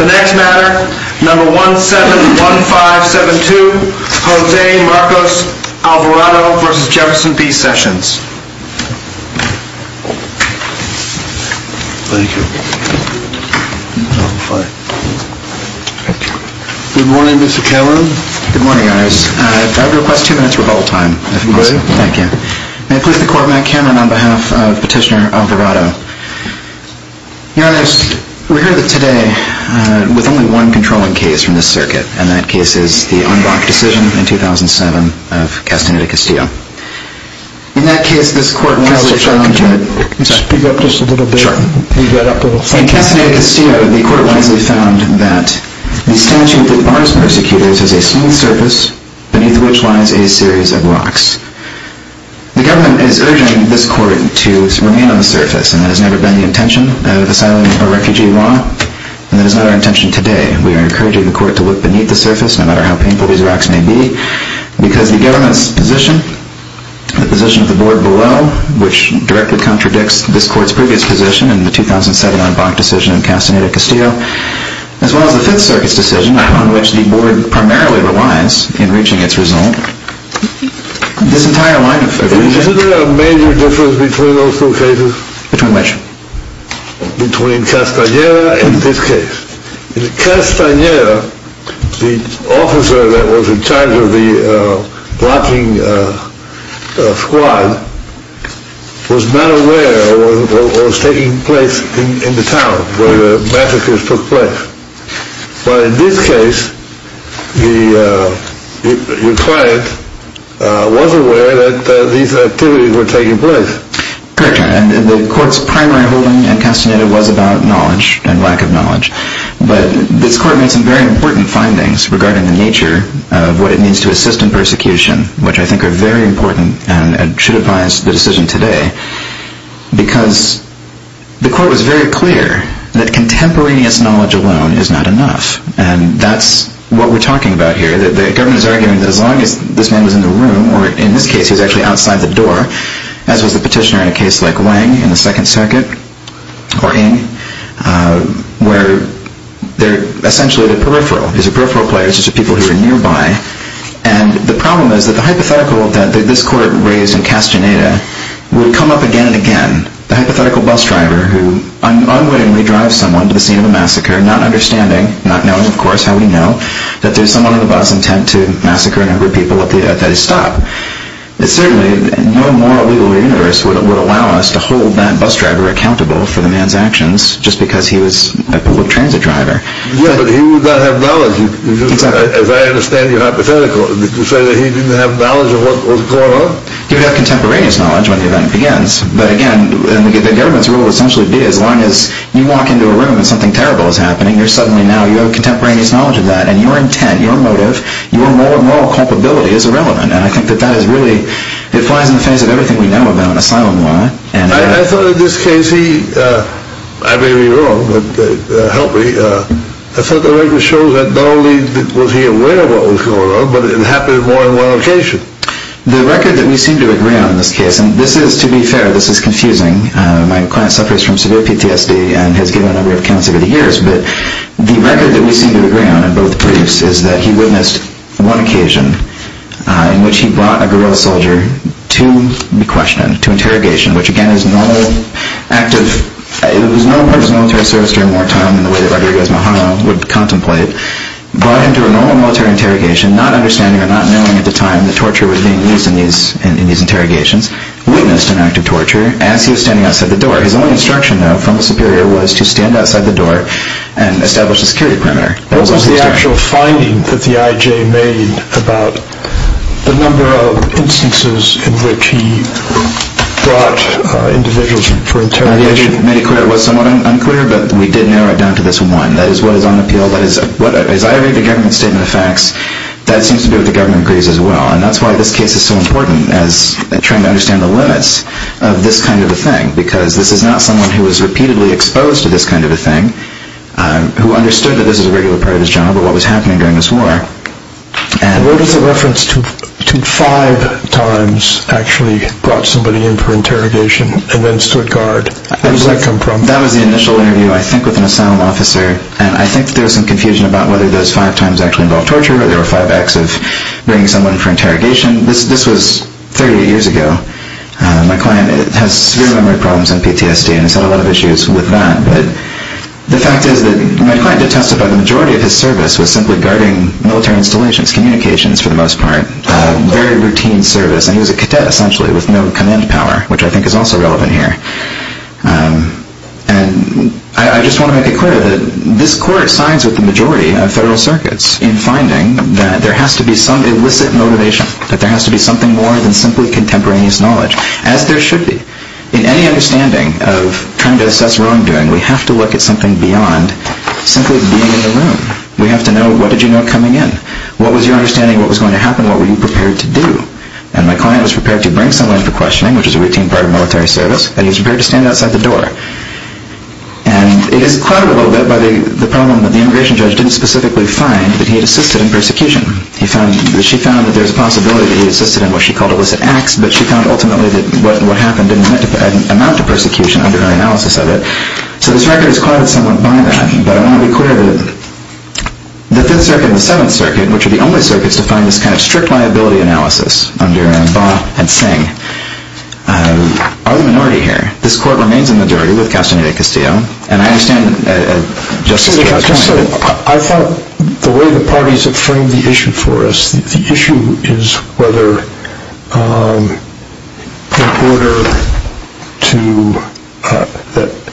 The next matter, number 171572, Jose Marcos Alvarado v. Jefferson B. Sessions. Thank you. Good morning, Mr. Cameron. Good morning, Your Honors. I'd like to request two minutes of rebuttal time, if possible. Please. Thank you. May it please the Court, I'm Matt Cameron on behalf of Petitioner Alvarado. Your Honors, we're here today with only one controlling case from this circuit, and that case is the unblocked decision in 2007 of Castaneda Castillo. In that case, this Court wisely found that... Mr. Chairman, could you speak up just a little bit? Sure. Can you get up a little? In Castaneda Castillo, the Court wisely found that the statute that bars persecutors is a smooth surface beneath which lies a series of rocks. The Government is urging this Court to remain on the surface, and that has never been the intention of asylum or refugee law, and that is not our intention today. We are encouraging the Court to look beneath the surface, no matter how painful these rocks may be, because the Government's position, the position of the Board below, which directly contradicts this Court's previous position in the 2007 unblocked decision in Castaneda Castillo, as well as the Fifth Circuit's decision on which the Board primarily relies in reaching its result, this entire line of evidence... Isn't there a major difference between those two cases? Between which? Between Castaneda and this case. In Castaneda, the officer that was in charge of the blocking squad was not aware of what was taking place in the town where the massacres took place. But in this case, your client was aware that these activities were taking place. Correct, and the Court's primary holding in Castaneda was about knowledge and lack of knowledge. But this Court made some very important findings regarding the nature of what it means to assist in persecution, which I think are very important and should advise the decision today, because the Court was very clear that contemporaneous knowledge alone is not enough. And that's what we're talking about here. The Government is arguing that as long as this man was in the room, or in this case he was actually outside the door, as was the petitioner in a case like Wang in the Second Circuit, or Ng, where they're essentially at a peripheral. He's a peripheral player, he's just a people who are nearby. And the problem is that the hypothetical that this Court raised in Castaneda would come up again and again. The hypothetical bus driver who unwittingly drives someone to the scene of a massacre, not understanding, not knowing of course how we know, that there's someone on the bus intent to massacre a number of people at his stop. Certainly no moral, legal universe would allow us to hold that bus driver accountable for the man's actions, just because he was a public transit driver. Yeah, but he would not have knowledge. As I understand your hypothetical, did you say that he didn't have knowledge of what was going on? He would have contemporaneous knowledge when the event begins. But again, the Government's rule would essentially be as long as you walk into a room and something terrible is happening, you're suddenly now, you have contemporaneous knowledge of that, and your intent, your motive, your moral culpability is irrelevant. And I think that that is really, it flies in the face of everything we know about asylum law. I thought in this case he, I may be wrong, but help me, I thought the record shows that not only was he aware of what was going on, but it happened more than one occasion. The record that we seem to agree on in this case, and this is, to be fair, this is confusing, my client suffers from severe PTSD and has given a number of accounts over the years, but the record that we seem to agree on in both briefs is that he witnessed one occasion in which he brought a guerrilla soldier to be questioned, to interrogation, which again is normal active, it was normal part of his military service during wartime in the way that Rodriguez-Majano would contemplate, brought him to a normal military interrogation, not understanding or not knowing at the time that torture was being used in these interrogations, witnessed an act of torture as he was standing outside the door. His only instruction, though, from the superior was to stand outside the door and establish a security perimeter. What was the actual finding that the I.J. made about the number of instances in which he brought individuals for interrogation? The I.J. made it clear it was somewhat unclear, but we did narrow it down to this one. That is, what is on appeal, that is, as I read the government statement of facts, that seems to be what the government agrees as well, and that's why this case is so important as trying to understand the limits of this kind of a thing, because this is not someone who was repeatedly exposed to this kind of a thing, who understood that this was a regular part of his job or what was happening during this war. Where does the reference to five times actually brought somebody in for interrogation and then stood guard, where does that come from? That was the initial interview, I think, with an asylum officer, and I think there was some confusion about whether those five times actually involved torture or whether there were five acts of bringing someone in for interrogation. This was 38 years ago. My client has severe memory problems and PTSD and has had a lot of issues with that, but the fact is that my client detested that the majority of his service was simply guarding military installations, communications for the most part, very routine service, and he was a cadet essentially with no command power, which I think is also relevant here. And I just want to make it clear that this court sides with the majority of federal circuits in finding that there has to be some illicit motivation, that there has to be something more than simply contemporaneous knowledge, as there should be. In any understanding of trying to assess wrongdoing, we have to look at something beyond simply being in the room. We have to know, what did you know coming in? What was your understanding of what was going to happen? What were you prepared to do? And my client was prepared to bring someone in for questioning, which is a routine part of military service, and he was prepared to stand outside the door. And it is clouded a little bit by the problem that the immigration judge didn't specifically find that he had assisted in persecution. She found that there was a possibility that he had assisted in what she called illicit acts, but she found ultimately that what happened didn't amount to persecution under her analysis of it. So this record is clouded somewhat by that, but I want to be clear that the Fifth Circuit and the Seventh Circuit, which are the only circuits to find this kind of strict liability analysis under Baugh and Singh, are the minority here. This court remains a majority with Castaneda-Castillo, and I understand Justice Jarrett's point. I thought the way the parties have framed the issue for us, the issue is whether in order to –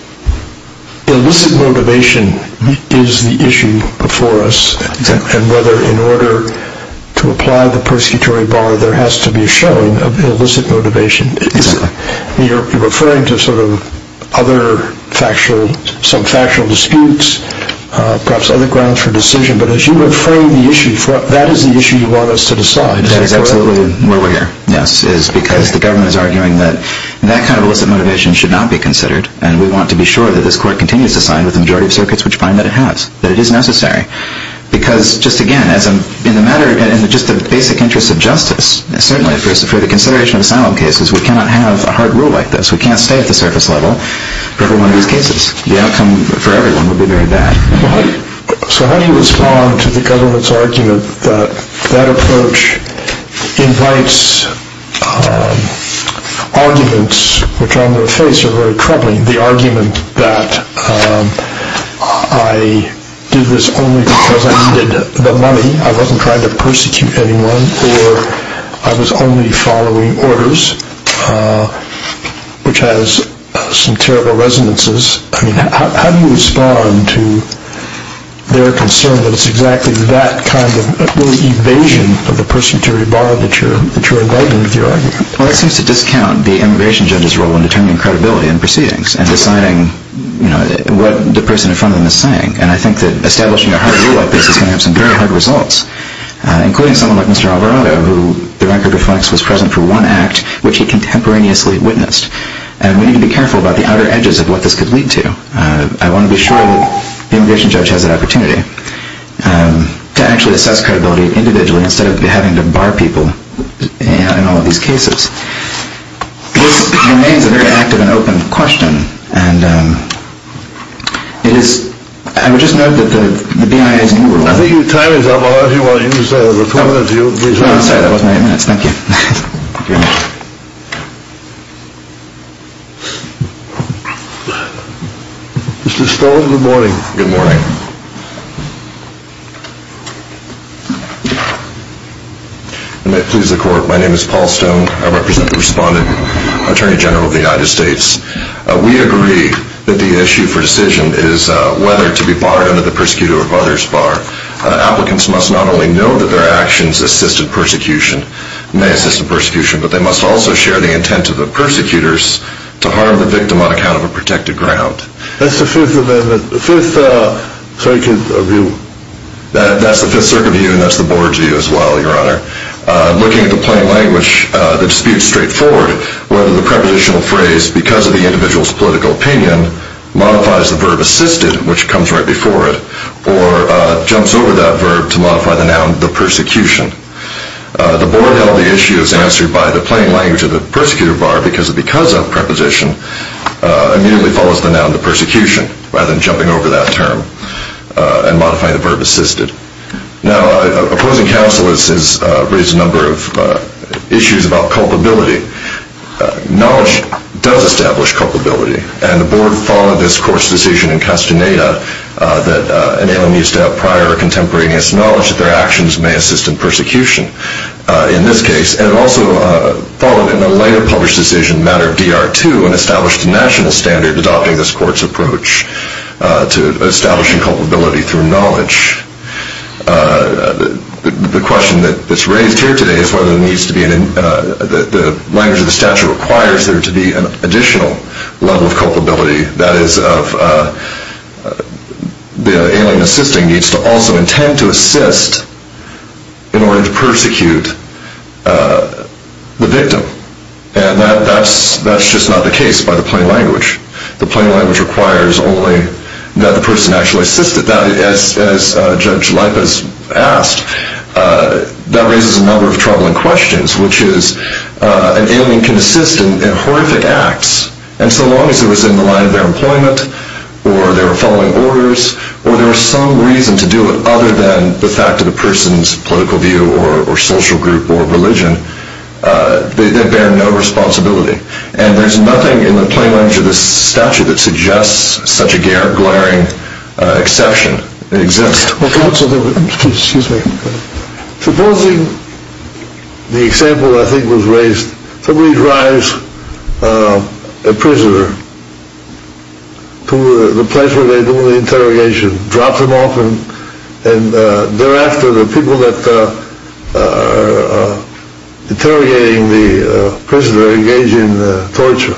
illicit motivation is the issue before us, and whether in order to apply the persecutory bar there has to be a showing of illicit motivation. You're referring to sort of other factual, some factual disputes, perhaps other grounds for decision, but as you reframe the issue, that is the issue you want us to decide, is that correct? That is absolutely where we're here, yes, is because the government is arguing that that kind of illicit motivation should not be considered, and we want to be sure that this court continues to sign with the majority of circuits which find that it has, that it is necessary. Because, just again, in the matter, in just the basic interest of justice, certainly for the consideration of asylum cases, we cannot have a hard rule like this. We can't stay at the surface level for every one of these cases. The outcome for everyone would be very bad. So how do you respond to the government's argument that that approach invites arguments, which on their face are very troubling, the argument that I did this only because I needed the money, I wasn't trying to persecute anyone, or I was only following orders, which has some terrible resonances. I mean, how do you respond to their concern that it's exactly that kind of evasion of the person to rebar that you're inviting with your argument? Well, that seems to discount the immigration judge's role in determining credibility in proceedings and deciding what the person in front of them is saying. And I think that establishing a hard rule like this is going to have some very hard results, including someone like Mr. Alvarado, who the record reflects was present for one act, which he contemporaneously witnessed. And we need to be careful about the outer edges of what this could lead to. I want to be sure that the immigration judge has that opportunity to actually assess credibility individually instead of having to bar people in all of these cases. This remains a very active and open question. And I would just note that the BIA's new rule... I think your time is up. I'll let you use your two minutes. I'm sorry, that wasn't my eight minutes. Thank you. Mr. Stone, good morning. Good morning. I may please the court. My name is Paul Stone. I represent the respondent, Attorney General of the United States. We agree that the issue for decision is whether to be barred under the persecutor or others bar. Applicants must not only know that their actions assist in persecution, may assist in persecution, but they must also share the intent of the persecutors to harm the victim on account of a protected ground. That's the Fifth Circuit view. That's the Fifth Circuit view, and that's the Board's view as well, Your Honor. Looking at the plain language, the dispute is straightforward. Whether the prepositional phrase, because of the individual's political opinion, modifies the verb assisted, which comes right before it, or jumps over that verb to modify the noun, the persecution. The Board held the issue as answered by the plain language of the persecutor bar, because of, because of preposition, immediately follows the noun, the persecution, rather than jumping over that term and modifying the verb assisted. Now, opposing counsel has raised a number of issues about culpability. Knowledge does establish culpability, and the Board followed this court's decision in Castaneda that, if an alien needs to have prior or contemporaneous knowledge, that their actions may assist in persecution in this case. And it also followed in a later published decision in a matter of DR2 and established a national standard adopting this court's approach to establishing culpability through knowledge. The question that's raised here today is whether there needs to be, the language of the statute requires there to be an additional level of culpability, that is, the alien assisting needs to also intend to assist in order to persecute the victim. And that's just not the case by the plain language. The plain language requires only that the person actually assist it. As Judge Lipas asked, that raises a number of troubling questions, which is, an alien can assist in horrific acts, and so long as it was in the line of their employment, or they were following orders, or there was some reason to do it other than the fact of the person's political view or social group or religion, they bear no responsibility. And there's nothing in the plain language of this statute that suggests such a glaring exception exists. Supposing the example I think was raised, somebody drives a prisoner to the place where they do the interrogation, drops him off, and thereafter the people that are interrogating the prisoner engage in torture.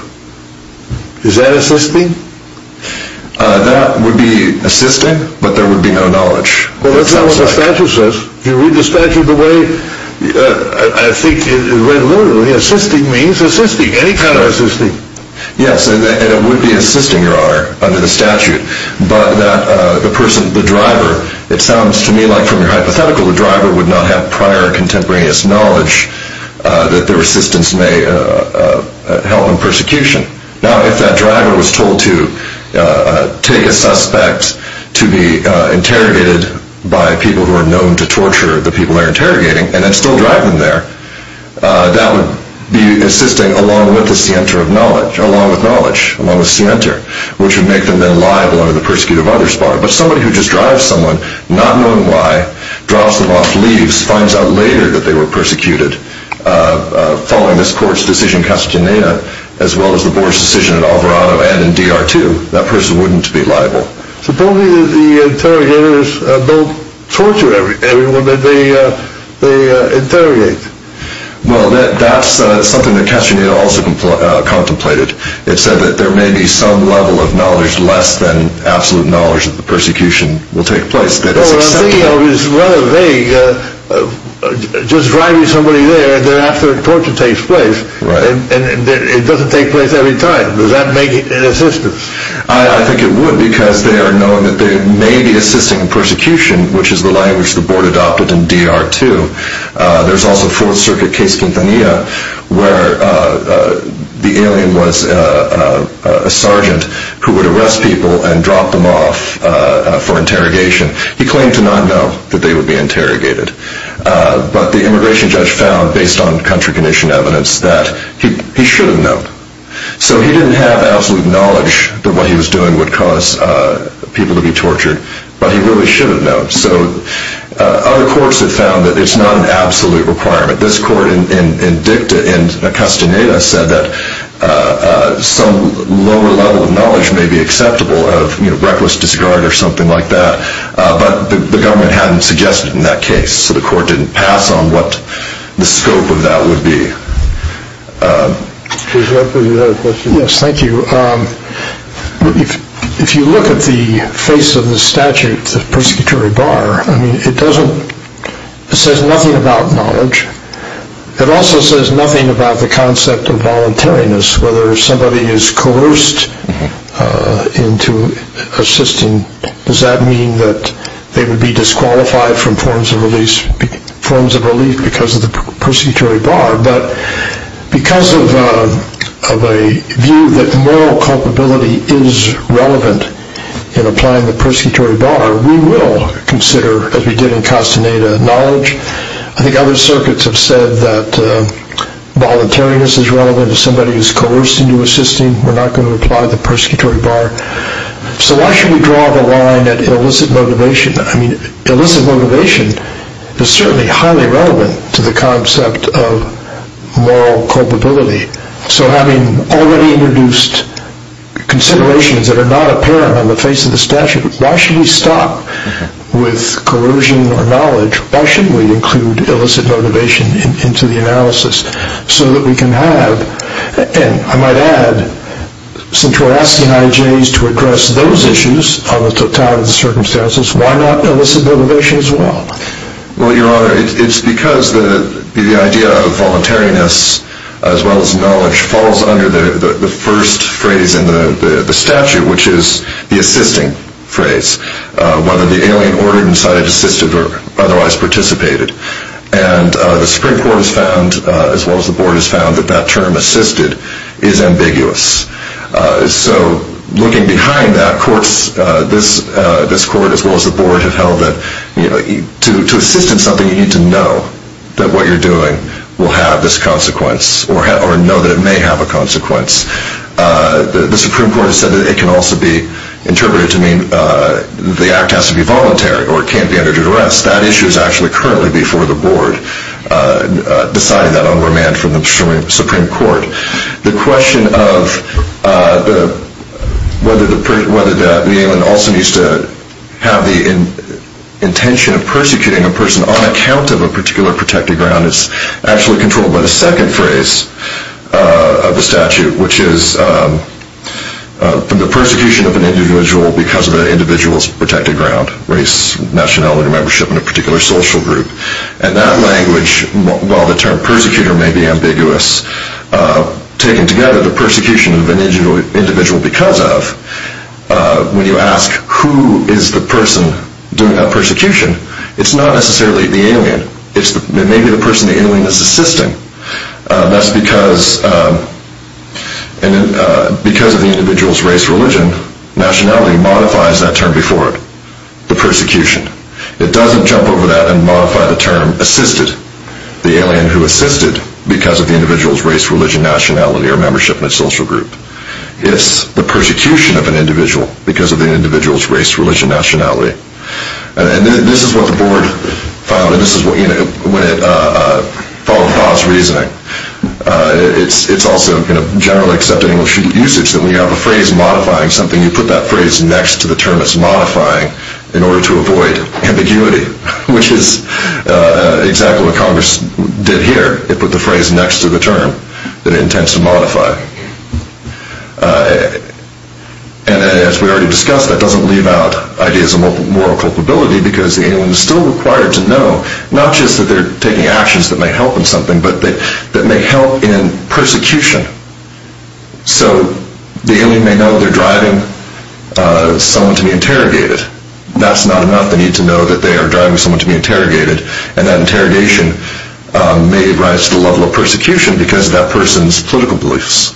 Is that assisting? That would be assisting, but there would be no knowledge. But that's not what the statute says. If you read the statute the way I think it is read literally, assisting means assisting, any kind of assisting. Yes, and it would be assisting, Your Honor, under the statute. But the person, the driver, it sounds to me like from your hypothetical, the driver would not have prior contemporaneous knowledge that their assistance may help in persecution. Now, if that driver was told to take a suspect to be interrogated by people who are known to torture the people they're interrogating and then still drive them there, that would be assisting along with the scienter of knowledge, along with knowledge, along with scienter, which would make them then liable under the persecutive others part. But somebody who just drives someone, not knowing why, drops them off, leaves, finds out later that they were persecuted following this court's decision in Castroneta, as well as the board's decision in Alvarado and in DR2, that person wouldn't be liable. Supposedly the interrogators don't torture everyone that they interrogate. Well, that's something that Castroneta also contemplated. It said that there may be some level of knowledge less than absolute knowledge that the persecution will take place. Well, what I'm thinking of is rather vague. Just driving somebody there, then after the torture takes place, it doesn't take place every time. Does that make it an assistance? I think it would, because they are known that they may be assisting in persecution, which is the language the board adopted in DR2. There's also Fourth Circuit case Quintanilla, where the alien was a sergeant who would arrest people and drop them off for interrogation. He claimed to not know that they would be interrogated. But the immigration judge found, based on country condition evidence, that he should have known. So he didn't have absolute knowledge that what he was doing would cause people to be tortured, but he really should have known. Other courts have found that it's not an absolute requirement. This court in Castroneta said that some lower level of knowledge may be acceptable, a level of reckless disregard or something like that. But the government hadn't suggested in that case, so the court didn't pass on what the scope of that would be. Yes, thank you. If you look at the face of the statute, the persecutory bar, it says nothing about knowledge. It also says nothing about the concept of voluntariness, whether somebody is coerced into assisting. Does that mean that they would be disqualified from forms of relief because of the persecutory bar? But because of a view that moral culpability is relevant in applying the persecutory bar, we will consider, as we did in Castroneta, knowledge. I think other circuits have said that voluntariness is relevant if somebody is coerced into assisting. We're not going to apply the persecutory bar. So why should we draw the line at illicit motivation? I mean, illicit motivation is certainly highly relevant to the concept of moral culpability. So having already introduced considerations that are not apparent on the face of the statute, why should we stop with coercion or knowledge? Why shouldn't we include illicit motivation into the analysis so that we can have, and I might add, since we're asking IJs to address those issues on the totality of the circumstances, why not illicit motivation as well? Well, Your Honor, it's because the idea of voluntariness as well as knowledge falls under the first phrase in the statute, which is the assisting phrase, whether the alien ordered, incited, assisted, or otherwise participated. And the Supreme Court has found, as well as the Board has found, that that term, assisted, is ambiguous. So looking behind that, courts, this Court as well as the Board, have held that to assist in something you need to know that what you're doing will have this consequence or know that it may have a consequence. The Supreme Court has said that it can also be interpreted to mean the act has to be voluntary or it can't be under due duress. That issue is actually currently before the Board, deciding that on remand from the Supreme Court. The question of whether the alien also needs to have the intention of persecuting a person on account of a particular protected ground is actually controlled by the second phrase of the statute, which is the persecution of an individual because of an individual's protected ground, race, nationality, membership in a particular social group. And that language, while the term persecutor may be ambiguous, taking together the persecution of an individual because of, when you ask who is the person doing that persecution, it's not necessarily the alien. It may be the person the alien is assisting. That's because of the individual's race, religion, nationality, modifies that term before it, the persecution. It doesn't jump over that and modify the term assisted, the alien who assisted because of the individual's race, religion, nationality, or membership in a social group. It's the persecution of an individual because of the individual's race, religion, nationality. And this is what the board found, and this is when it followed Bob's reasoning. It's also in a generally accepted English usage that when you have a phrase modifying something, you put that phrase next to the term it's modifying in order to avoid ambiguity, which is exactly what Congress did here. It put the phrase next to the term that it intends to modify. And as we already discussed, that doesn't leave out ideas of moral culpability because the alien is still required to know, not just that they're taking actions that may help in something, but that may help in persecution. So the alien may know they're driving someone to be interrogated. That's not enough. They need to know that they are driving someone to be interrogated, and that interrogation may rise to the level of persecution because of that person's political beliefs.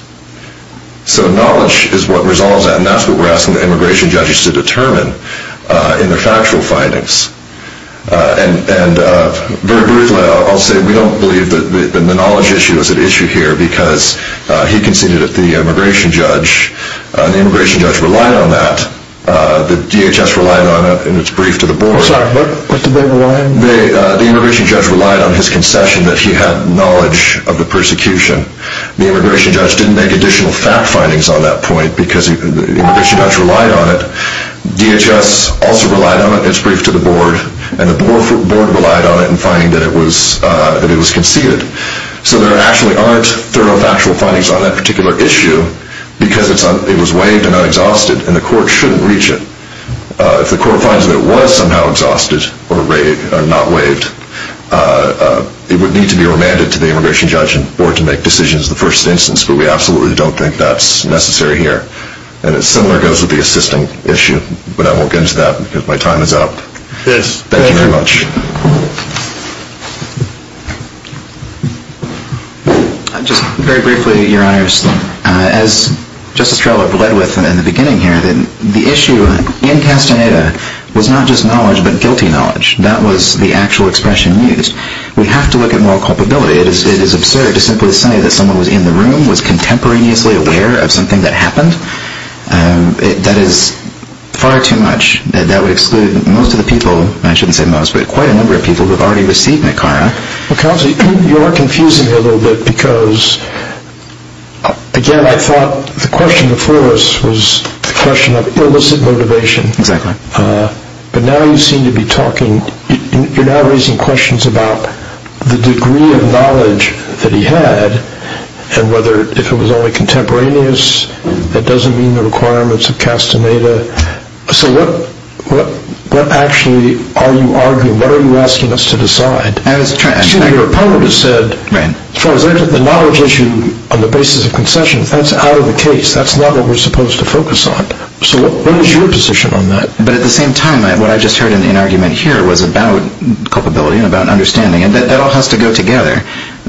So knowledge is what resolves that, and that's what we're asking the immigration judges to determine in their factual findings. And very briefly, I'll say we don't believe that the knowledge issue is an issue here because he conceded it to the immigration judge. The immigration judge relied on that. The DHS relied on it in its brief to the board. The immigration judge relied on his concession that he had knowledge of the persecution. The immigration judge didn't make additional fact findings on that point because the immigration judge relied on it. DHS also relied on it in its brief to the board, and the board relied on it in finding that it was conceded. So there actually aren't thorough factual findings on that particular issue because it was waived and unexhausted, and the court shouldn't reach it. If the court finds that it was somehow exhausted or not waived, it would need to be remanded to the immigration judge and the board to make decisions in the first instance, but we absolutely don't think that's necessary here. And similar goes with the assisting issue, but I won't get into that because my time is up. Thank you very much. Just very briefly, Your Honors, as Justice Treloar bled with in the beginning here, the issue in Castaneda was not just knowledge but guilty knowledge. That was the actual expression used. We have to look at moral culpability. It is absurd to simply say that someone was in the room, was contemporaneously aware of something that happened. That is far too much. That would exclude most of the people, and I shouldn't say most, but quite a number of people who have already received Nicara. Well, Counselor, you are confusing me a little bit because, again, what I thought the question before us was the question of illicit motivation. Exactly. But now you seem to be talking, you're now raising questions about the degree of knowledge that he had and whether if it was only contemporaneous, that doesn't mean the requirements of Castaneda. So what actually are you arguing? What are you asking us to decide? Your opponent has said, as far as I took the knowledge issue on the basis of concessions, that's out of the case. That's not what we're supposed to focus on. So what is your position on that? But at the same time, what I just heard in the argument here was about culpability and about understanding, and that all has to go together.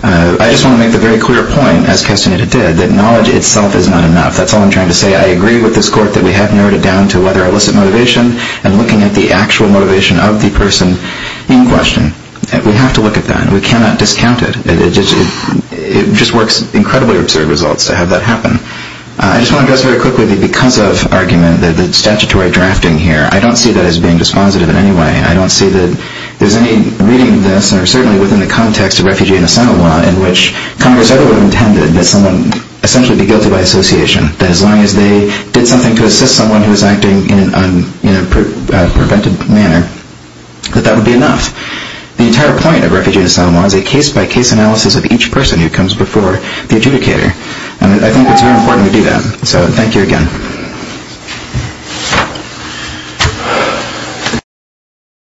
I just want to make the very clear point, as Castaneda did, that knowledge itself is not enough. That's all I'm trying to say. I agree with this Court that we have narrowed it down to whether illicit motivation and looking at the actual motivation of the person in question. We have to look at that, and we cannot discount it. It just works incredibly absurd results to have that happen. I just want to address very quickly, because of argument, the statutory drafting here, I don't see that as being dispositive in any way. I don't see that there's any reading of this, or certainly within the context of refugee and asylum law, in which Congress ever intended that someone essentially be guilty by association, that as long as they did something to assist someone who was acting in a prevented manner, that that would be enough. The entire point of refugee and asylum law is a case-by-case analysis of each person who comes before the adjudicator, and I think it's very important to do that. So, thank you again.